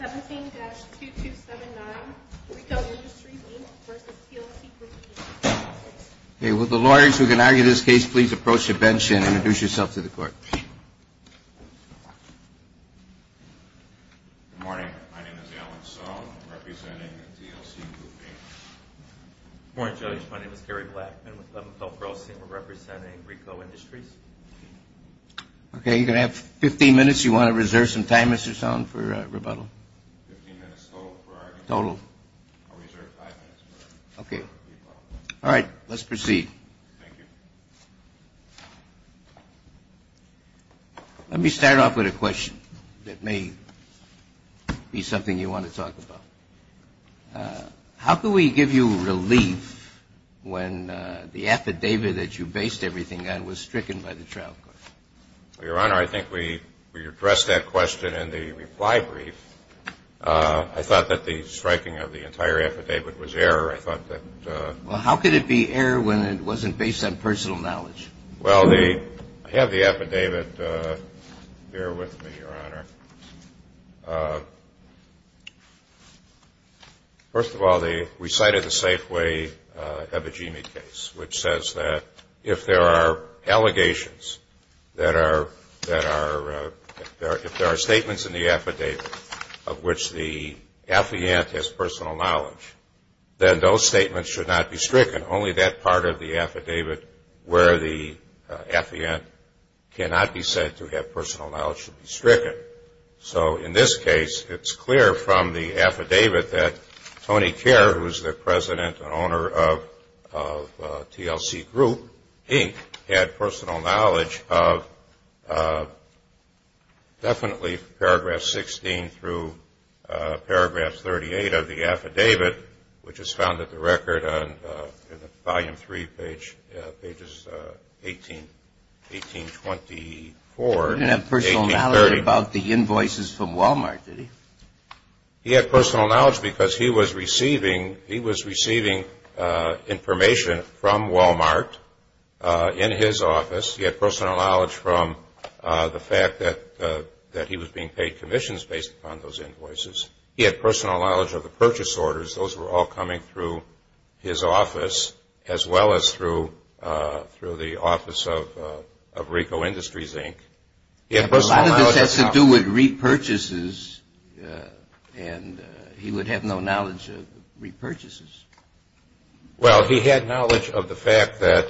17-2279, Ricoh Industries, Inc v. TLC Group, Inc. Okay, will the lawyers who can argue this case please approach the bench and introduce yourself to the court. Good morning. My name is Alan Sohn, representing TLC Group, Inc. Good morning, Judge. My name is Gary Blackman with Leventhal Grossing. We're representing Ricoh Industries, Inc. Okay, you're going to have 15 minutes. You want to reserve some time, Mr. Sohn, for rebuttal? Fifteen minutes total for argument. Total. I'll reserve five minutes for rebuttal. All right, let's proceed. Thank you. Let me start off with a question that may be something you want to talk about. How can we give you relief when the affidavit that you based everything on was stricken by the trial court? Well, Your Honor, I think we addressed that question in the reply brief. I thought that the striking of the entire affidavit was error. I thought that Well, how could it be error when it wasn't based on personal knowledge? Well, I have the affidavit here with me, Your Honor. First of all, they recited the Safeway-Ebijimi case, which says that if there are allegations that are if there are statements in the affidavit of which the affiant has personal knowledge, then those statements should not be stricken. Only that part of the affidavit where the affiant cannot be said to have personal knowledge should be stricken. So in this case, it's clear from the affidavit that Tony Kerr, who is the president and owner of TLC Group, Inc., had personal knowledge of definitely Paragraph 16 through Paragraph 38 of the affidavit, which is found at the record in Volume 3, pages 18, 1824. He didn't have personal knowledge about the invoices from Walmart, did he? He had personal knowledge because he was receiving information from Walmart in his office. He had personal knowledge from the fact that he was being paid commissions based upon those invoices. He had personal knowledge of the purchase orders. Those were all coming through his office, as well as through the office of Ricoh Industries, Inc. A lot of this has to do with repurchases, and he would have no knowledge of repurchases. Well, he had knowledge of the fact that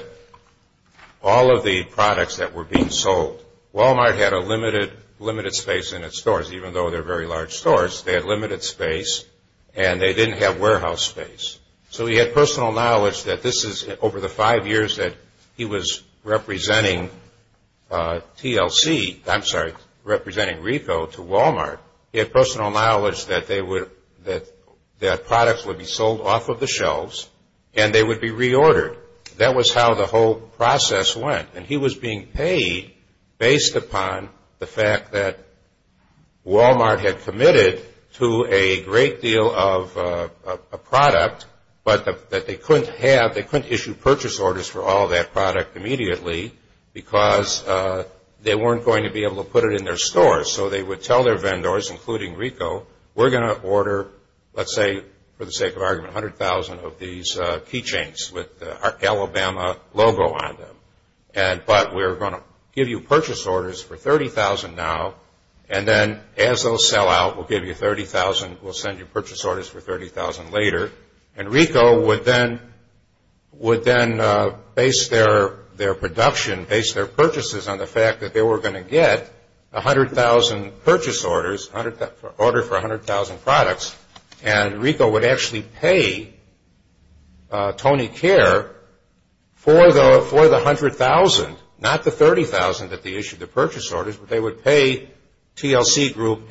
all of the products that were being sold, Walmart had a limited space in its stores, even though they're very large stores. They had limited space, and they didn't have warehouse space. So he had personal knowledge that this is over the five years that he was representing TLC, I'm sorry, representing Ricoh to Walmart. He had personal knowledge that products would be sold off of the shelves, and they would be reordered. That was how the whole process went. And he was being paid based upon the fact that Walmart had committed to a great deal of a product, but that they couldn't have, they couldn't issue purchase orders for all of that product immediately because they weren't going to be able to put it in their stores. So they would tell their vendors, including Ricoh, we're going to order, let's say, for the sake of argument, 100,000 of these keychains with the Alabama logo on them, but we're going to give you purchase orders for 30,000 now, and then as those sell out, we'll give you 30,000, we'll send you purchase orders for 30,000 later. And Ricoh would then base their production, base their purchases on the fact that they were going to get 100,000 purchase orders, order for 100,000 products, and Ricoh would actually pay Tony Care for the 100,000, not the 30,000 that they issued the purchase orders, but they would pay TLC Group,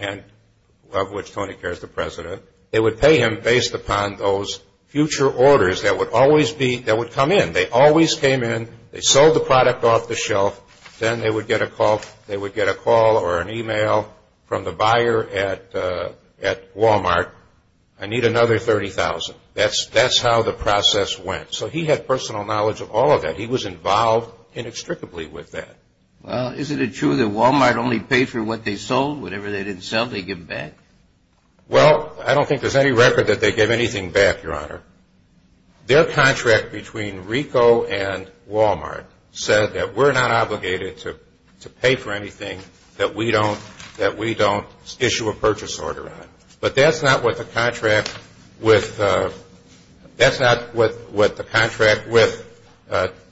of which Tony Care is the president, they would pay him based upon those future orders that would come in. They always came in, they sold the product off the shelf, then they would get a call or an email from the buyer at Walmart, I need another 30,000, that's how the process went. So he had personal knowledge of all of that. He was involved inextricably with that. Well, is it true that Walmart only paid for what they sold? Whatever they didn't sell, they gave back? Well, I don't think there's any record that they gave anything back, Your Honor. Their contract between Ricoh and Walmart said that we're not obligated to pay for anything that we don't issue a purchase order on. But that's not what the contract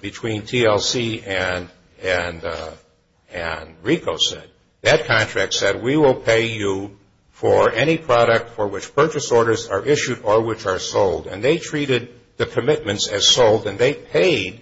between TLC and Ricoh said. That contract said we will pay you for any product for which purchase orders are issued or which are sold, and they treated the commitments as sold, and they paid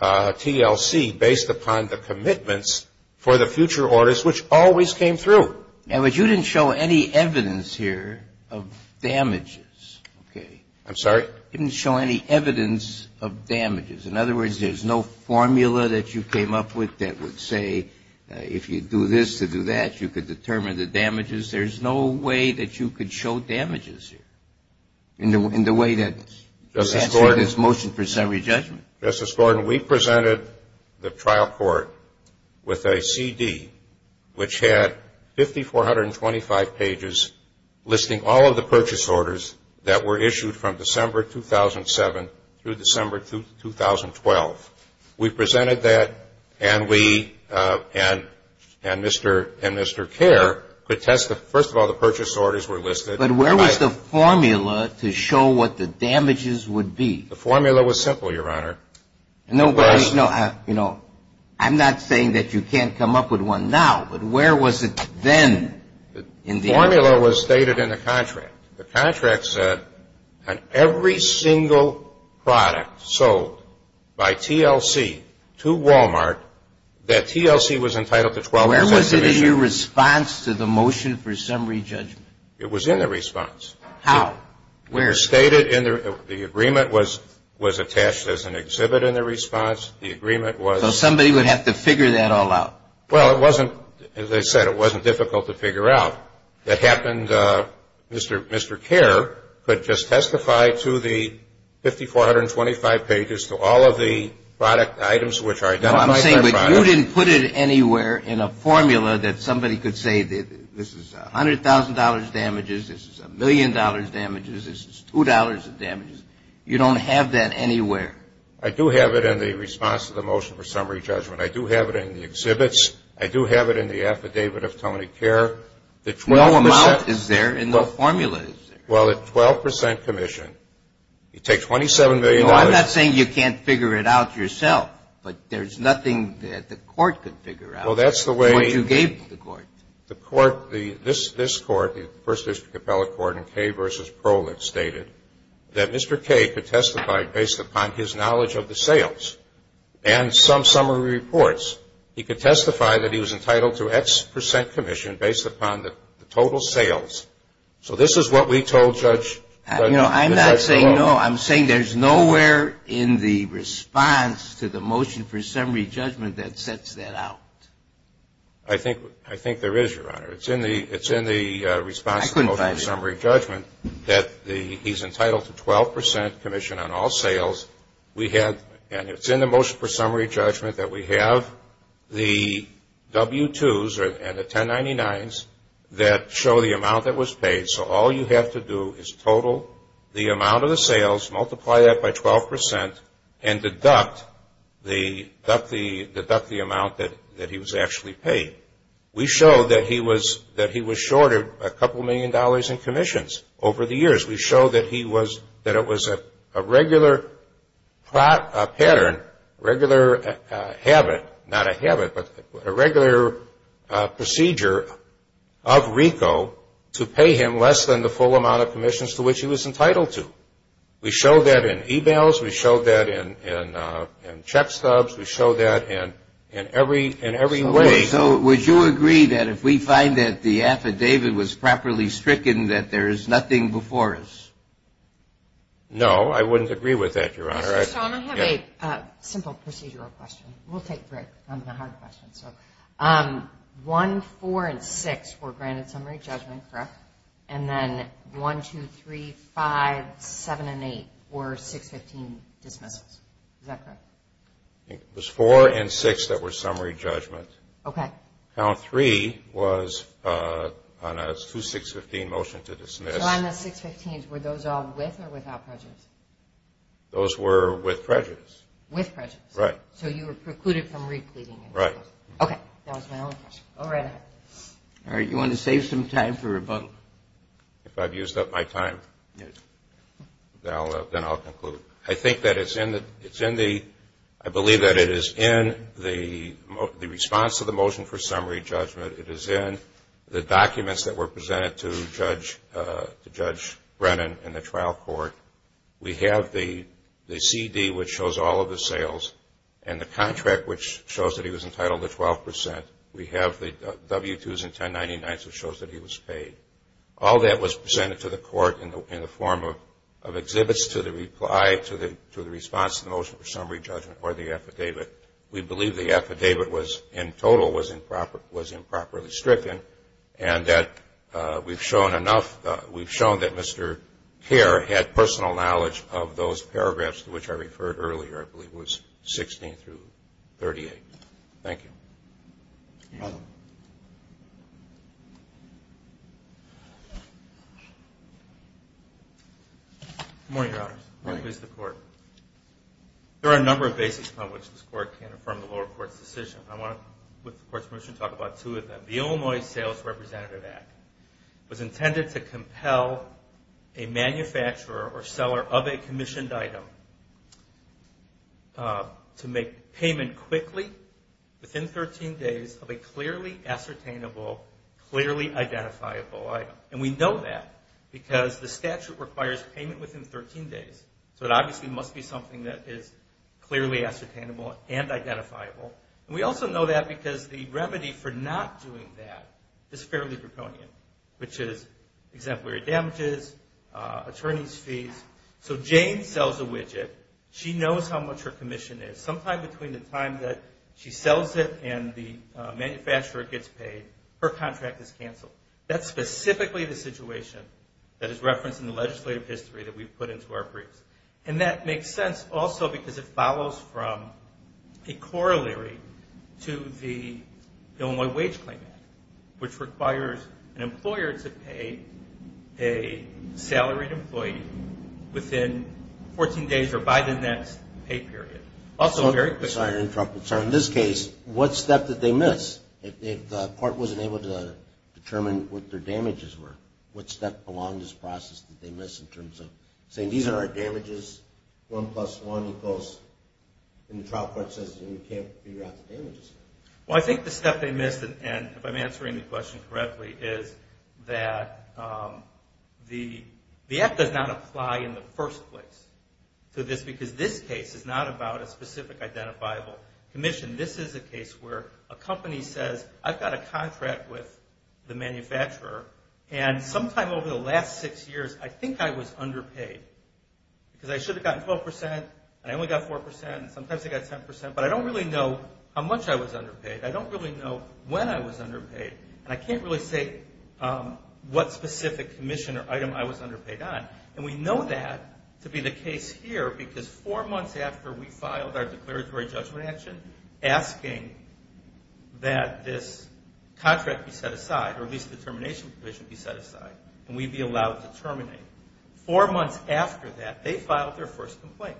TLC based upon the commitments for the future orders, which always came through. Now, but you didn't show any evidence here of damages, okay? I'm sorry? You didn't show any evidence of damages. In other words, there's no formula that you came up with that would say if you do this to do that, you could determine the damages. There's no way that you could show damages here in the way that you're answering this motion for summary judgment. Justice Gordon, we presented the trial court with a CD, which had 5,425 pages listing all of the purchase orders that were issued from December 2007 through December 2012. We presented that, and we and Mr. and Mr. Care could test the first of all the purchase orders were listed. But where was the formula to show what the damages would be? The formula was simple, Your Honor. No, but, you know, I'm not saying that you can't come up with one now, but where was it then? The formula was stated in the contract. The contract said on every single product sold by TLC to Wal-Mart that TLC was entitled to 12 years' extradition. Where was it in your response to the motion for summary judgment? It was in the response. How? Where? It was stated in the agreement was attached as an exhibit in the response. The agreement was. So somebody would have to figure that all out. Well, it wasn't, as I said, it wasn't difficult to figure out. That happened, Mr. Care could just testify to the 5,425 pages to all of the product items which are identified. I'm saying that you didn't put it anywhere in a formula that somebody could say this is $100,000 damages, this is $1 million damages, this is $2 of damages. You don't have that anywhere. I do have it in the response to the motion for summary judgment. I do have it in the exhibits. I do have it in the affidavit of Tony Care. The 12 percent. No amount is there and no formula is there. Well, the 12 percent commission, you take $27 million. No, I'm not saying you can't figure it out yourself, but there's nothing that the court could figure out. Well, that's the way. What you gave the court. The court, this court, the First District Appellate Court in Kay versus Prohlitz stated that Mr. Kay could testify based upon his knowledge of the sales and some summary reports. He could testify that he was entitled to X percent commission based upon the total sales. So this is what we told Judge Prohlitz. You know, I'm not saying no. I'm saying there's nowhere in the response to the motion for summary judgment that sets that out. I think there is, Your Honor. It's in the response to the motion for summary judgment that he's entitled to 12 percent commission on all sales. And it's in the motion for summary judgment that we have the W-2s and the 1099s that show the amount that was paid. So all you have to do is total the amount of the sales, multiply that by 12 percent, and deduct the amount that he was actually paid. We showed that he was shorted a couple million dollars in commissions over the years. We showed that it was a regular pattern, regular habit, not a habit, but a regular procedure of RICO to pay him less than the full amount of commissions to which he was entitled to. We showed that in e-mails. We showed that in check stubs. We showed that in every way. So would you agree that if we find that the affidavit was properly stricken that there is nothing before us? No, I wouldn't agree with that, Your Honor. I have a simple procedural question. We'll take the hard questions. And then 1, 2, 3, 5, 7, and 8 were 615 dismissals. Is that correct? It was 4 and 6 that were summary judgments. Okay. Count 3 was on a 2615 motion to dismiss. So on the 615s, were those all with or without prejudice? Those were with prejudice. With prejudice. Right. So you were precluded from re-pleading. Right. Okay. That was my only question. Go right ahead. All right. You want to save some time for rebuttal? If I've used up my time, then I'll conclude. I think that it's in the ‑‑ I believe that it is in the response to the motion for summary judgment. It is in the documents that were presented to Judge Brennan in the trial court. We have the CD which shows all of the sales and the contract which shows that he was entitled to 12%. We have the W-2s and 1099s which shows that he was paid. All that was presented to the court in the form of exhibits to the reply to the response to the motion for summary judgment or the affidavit. We believe the affidavit in total was improperly stricken and that we've shown enough. We've shown that Mr. Kerr had personal knowledge of those paragraphs to which I referred earlier. I believe it was 16 through 38. Thank you. You're welcome. Good morning, Your Honors. Good morning. Please, the court. There are a number of basics on which this court can affirm the lower court's decision. I want to, with the court's permission, talk about two of them. The Illinois Sales Representative Act was intended to compel a manufacturer or seller of a commissioned item to make payment quickly, within 13 days, of a clearly ascertainable, clearly identifiable item. We know that because the statute requires payment within 13 days, so it obviously must be something that is clearly ascertainable and identifiable. We also know that because the remedy for not doing that is fairly draconian, which is exemplary damages, attorney's fees. So Jane sells a widget. She knows how much her commission is. Sometime between the time that she sells it and the manufacturer gets paid, her contract is canceled. That's specifically the situation that is referenced in the legislative history that we've put into our briefs. And that makes sense also because it follows from a corollary to the Illinois Wage Claim Act, which requires an employer to pay a salaried employee within 14 days or by the next pay period, also very quickly. I'm sorry to interrupt, but in this case, what step did they miss? If the court wasn't able to determine what their damages were, what step along this process did they miss in terms of saying, these are our damages, 1 plus 1 equals, and the trial court says you can't figure out the damages. Well, I think the step they missed, and if I'm answering the question correctly, is that the act does not apply in the first place to this because this case is not about a specific identifiable commission. This is a case where a company says, I've got a contract with the manufacturer, and sometime over the last six years, I think I was underpaid because I should have gotten 12 percent, and I only got 4 percent, and sometimes I got 10 percent, but I don't really know how much I was underpaid. I don't really know when I was underpaid, and I can't really say what specific commission or item I was underpaid on, and we know that to be the case here because four months after we filed our declaratory judgment action, asking that this contract be set aside, or at least the termination provision be set aside, and we be allowed to terminate, four months after that, they filed their first complaint,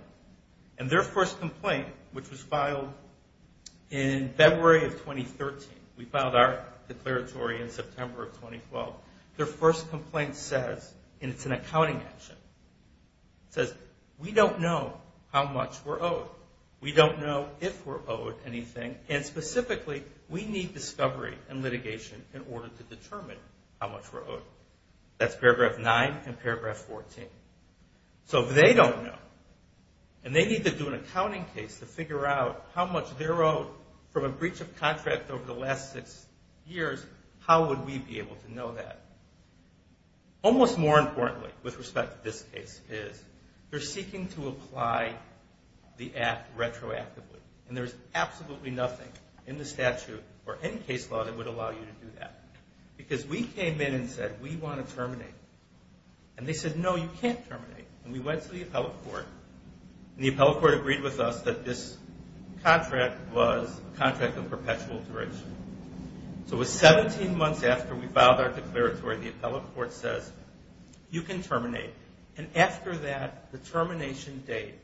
and their first complaint, which was filed in February of 2013, we filed our declaratory in September of 2012, their first complaint says, and it's an accounting action, it says, we don't know how much we're owed. We don't know if we're owed anything, and specifically, we need discovery and litigation in order to determine how much we're owed. That's paragraph 9 and paragraph 14. So if they don't know, and they need to do an accounting case to figure out how much they're owed from a breach of contract over the last six years, how would we be able to know that? Almost more importantly, with respect to this case, is they're seeking to apply the act retroactively, and there's absolutely nothing in the statute or any case law that would allow you to do that, because we came in and said, we want to terminate, and they said, no, you can't terminate, and we went to the appellate court, and the appellate court agreed with us that this contract was a contract of perpetual duration. So it was 17 months after we filed our declaratory, the appellate court says, you can terminate, and after that, the termination date,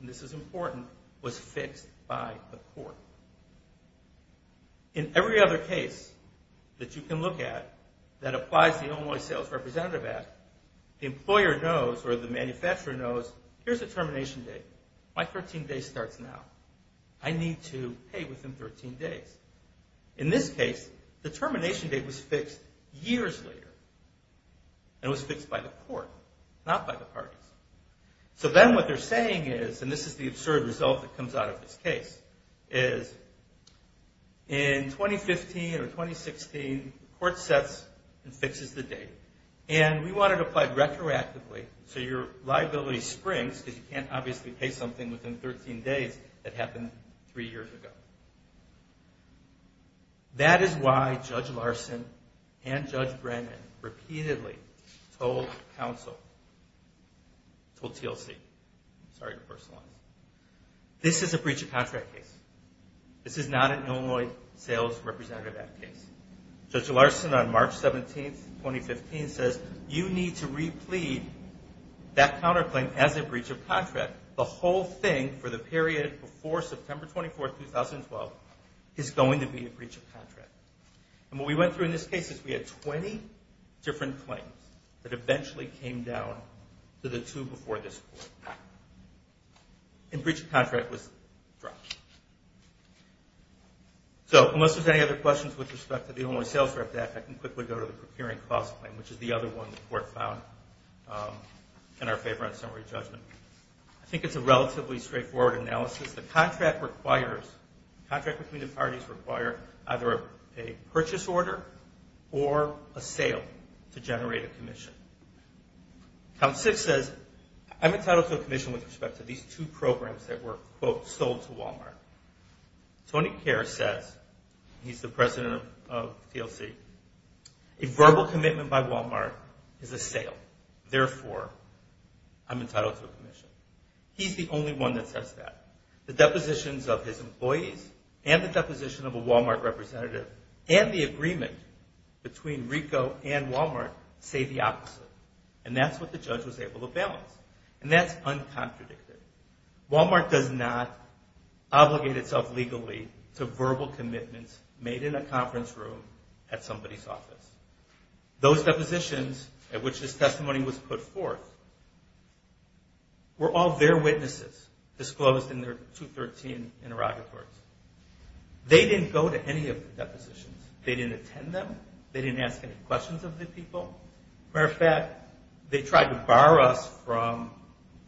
and this is important, was fixed by the court. In every other case that you can look at that applies the Homeboy Sales Representative Act, the employer knows or the manufacturer knows, here's the termination date. My 13 days starts now. I need to pay within 13 days. In this case, the termination date was fixed years later, and it was fixed by the court, not by the parties. So then what they're saying is, and this is the absurd result that comes out of this case, is in 2015 or 2016, the court sets and fixes the date, and we want it applied retroactively, so your liability springs, because you can't obviously pay something within 13 days that happened three years ago. That is why Judge Larson and Judge Brennan repeatedly told counsel, told TLC, sorry to burst the line, this is a breach of contract case. This is not an Illinois Sales Representative Act case. Judge Larson on March 17, 2015 says, you need to replete that counterclaim as a breach of contract. The whole thing for the period before September 24, 2012 is going to be a breach of contract. And what we went through in this case is we had 20 different claims that eventually came down to the two before this court. And breach of contract was dropped. So unless there's any other questions with respect to the Illinois Sales Representative Act, I can quickly go to the procuring clause claim, which is the other one the court found in our favor on summary judgment. I think it's a relatively straightforward analysis. The contract requires, contract between the parties require either a purchase order or a sale to generate a commission. Count 6 says, I'm entitled to a commission with respect to these two programs that were, quote, sold to Walmart. Tony Kerr says, he's the president of TLC, a verbal commitment by Walmart is a sale. Therefore, I'm entitled to a commission. He's the only one that says that. The depositions of his employees and the deposition of a Walmart representative and the agreement between Ricoh and Walmart say the opposite. And that's what the judge was able to balance. And that's uncontradicted. Walmart does not obligate itself legally to verbal commitments made in a conference room at somebody's office. Those depositions at which this testimony was put forth were all their witnesses disclosed in their 213 interrogatory. They didn't go to any of the depositions. They didn't attend them. They didn't ask any questions of the people. Matter of fact, they tried to bar us from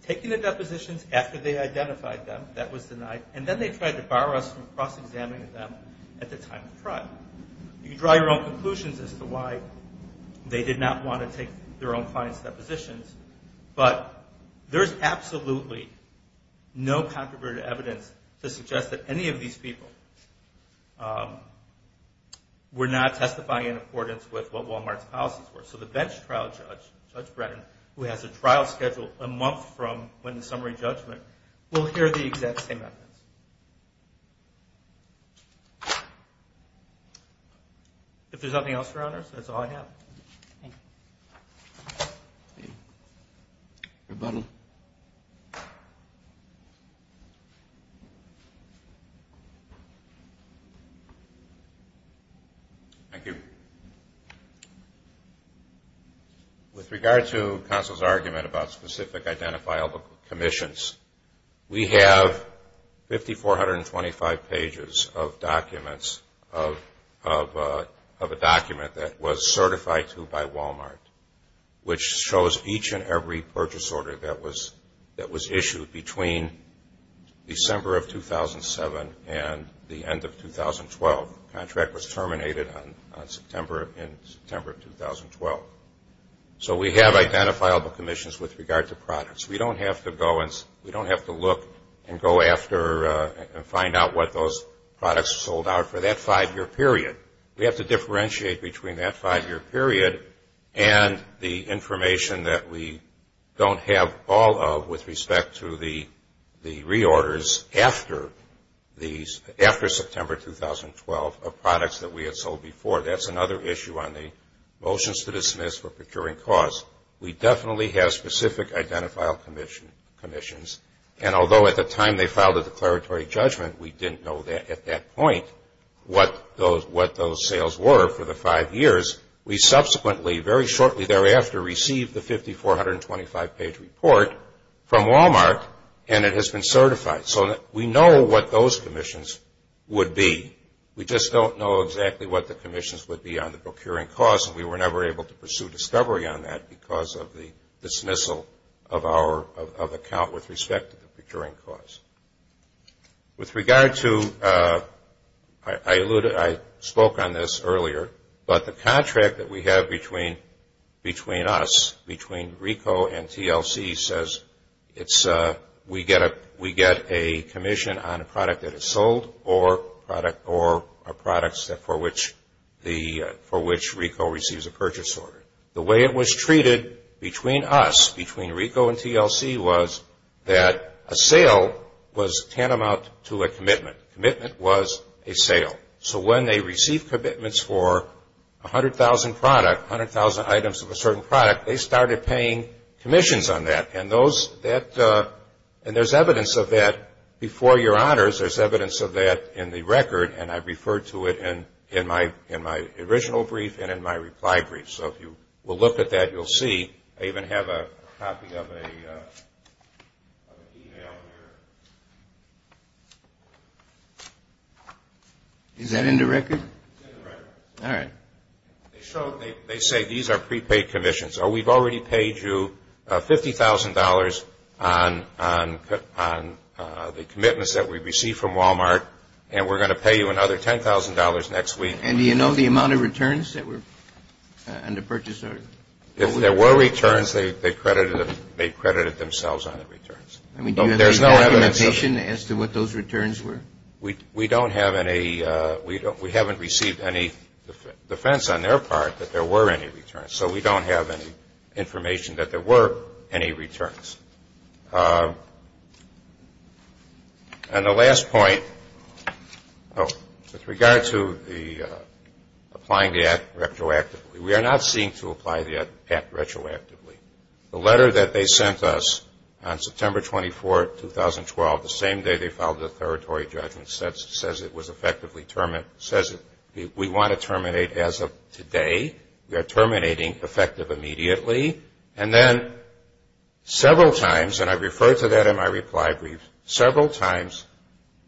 taking the depositions after they identified them. That was denied. And then they tried to bar us from cross-examining them at the time of trial. You can draw your own conclusions as to why they did not want to take their own clients' depositions. But there's absolutely no controverted evidence to suggest that any of these people were not testifying in accordance with what Walmart's policies were. So the bench trial judge, Judge Brennan, who has a trial schedule a month from when the summary judgment, will hear the exact same evidence. If there's nothing else, Your Honors, that's all I have. Rebuttal. Thank you. With regard to Counsel's argument about specific identifiable commissions, we have 5,425 pages of documents of a document that was certified to by Walmart, which shows each and every purchase order that was issued between December of 2007 and the end of 2012. The contract was terminated in September of 2012. So we have identifiable commissions with regard to products. We don't have to look and go after and find out what those products sold out for that five-year period. We have to differentiate between that five-year period and the information that we don't have all of with respect to the reorders after September 2012 of products that we had sold before. That's another issue on the motions to dismiss for procuring costs. We definitely have specific identifiable commissions. And although at the time they filed a declaratory judgment, we didn't know at that point what those sales were for the five years, we subsequently, very shortly thereafter, received the 5,425-page report from Walmart, and it has been certified. So we know what those commissions would be. We just don't know exactly what the commissions would be on the procuring costs, and we were never able to pursue discovery on that because of the dismissal of account with respect to the procuring costs. With regard to, I alluded, I spoke on this earlier, but the contract that we have between us, between RICO and TLC says we get a commission on a product that is sold or products for which RICO receives a purchase order. The way it was treated between us, between RICO and TLC, was that a sale was tantamount to a commitment. A commitment was a sale. So when they received commitments for 100,000 products, 100,000 items of a certain product, they started paying commissions on that. And there's evidence of that before your honors. There's evidence of that in the record, and I've referred to it in my original brief and in my reply brief. So if you will look at that, you'll see I even have a copy of an email here. Is that in the record? It's in the record. All right. They say these are prepaid commissions. Oh, we've already paid you $50,000 on the commitments that we received from Walmart, and we're going to pay you another $10,000 next week. And do you know the amount of returns that were under purchase order? If there were returns, they credited themselves on the returns. I mean, do you have any documentation as to what those returns were? We don't have any. We haven't received any defense on their part that there were any returns. So we don't have any information that there were any returns. And the last point, with regard to applying the act retroactively, we are not seeking to apply the act retroactively. The letter that they sent us on September 24, 2012, the same day they filed the territory judgment, says it was effectively terminated. It says we want to terminate as of today. We are terminating effective immediately. And then several times, and I refer to that in my reply brief, several times,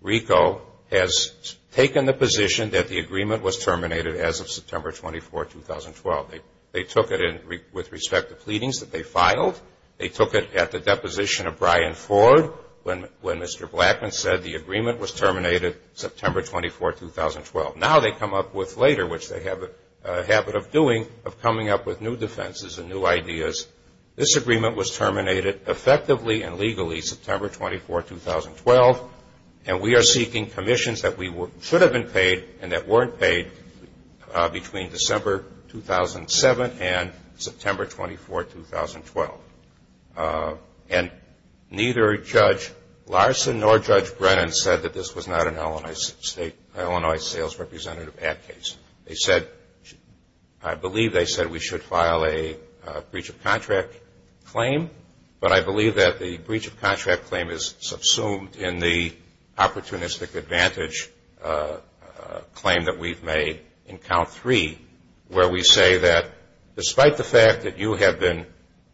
RICO has taken the position that the agreement was terminated as of September 24, 2012. They took it with respect to pleadings that they filed. They took it at the deposition of Brian Ford when Mr. Blackman said the agreement was terminated September 24, 2012. Now they come up with later, which they have a habit of doing, of coming up with new defenses and new ideas. This agreement was terminated effectively and legally September 24, 2012, and we are seeking commissions that should have been paid and that weren't paid between December 2007 and September 24, 2012. And neither Judge Larson nor Judge Brennan said that this was not an Illinois sales representative act case. They said, I believe they said we should file a breach of contract claim, but I believe that the breach of contract claim is subsumed in the opportunistic advantage claim that we've made in count three where we say that despite the fact that you have been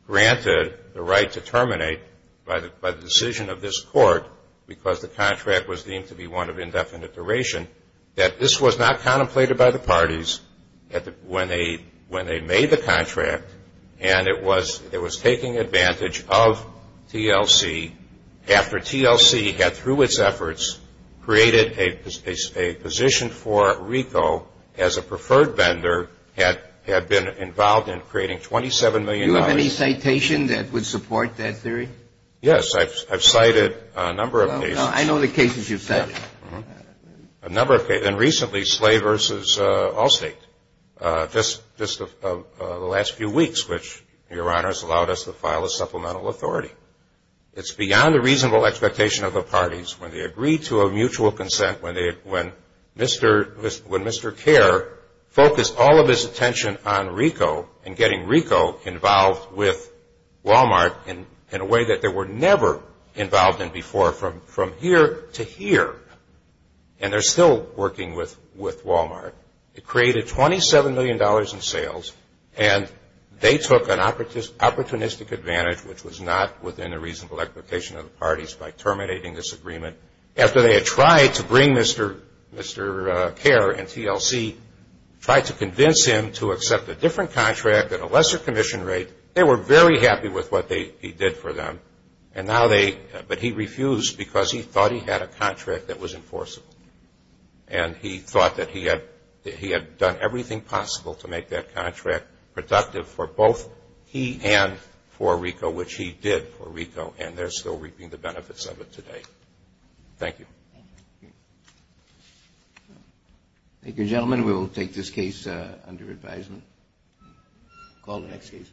granted the right to terminate by the decision of this court because the contract was deemed to be one of indefinite duration, that this was not contemplated by the parties when they made the contract and it was taking advantage of TLC after TLC had, through its efforts, created a position for RICO as a preferred vendor had been involved in creating $27 million. Do you have any citation that would support that theory? Yes. I've cited a number of cases. I know the cases you've cited. A number of cases. And recently, Slay v. Allstate. Just the last few weeks, which Your Honor has allowed us to file a supplemental authority. It's beyond the reasonable expectation of the parties when they agree to a mutual consent, when Mr. Care focused all of his attention on RICO and getting RICO involved with Walmart in a way that they were never involved in before from here to here. And they're still working with Walmart. It created $27 million in sales, and they took an opportunistic advantage, which was not within the reasonable expectation of the parties, by terminating this agreement. After they had tried to bring Mr. Care and TLC, tried to convince him to accept a different contract at a lesser commission rate, they were very happy with what he did for them, but he refused because he thought he had a contract that was enforceable. And he thought that he had done everything possible to make that contract productive for both he and for RICO, which he did for RICO, and they're still reaping the benefits of it today. Thank you. Thank you, gentlemen. We will take this case under advisement. Call the next case.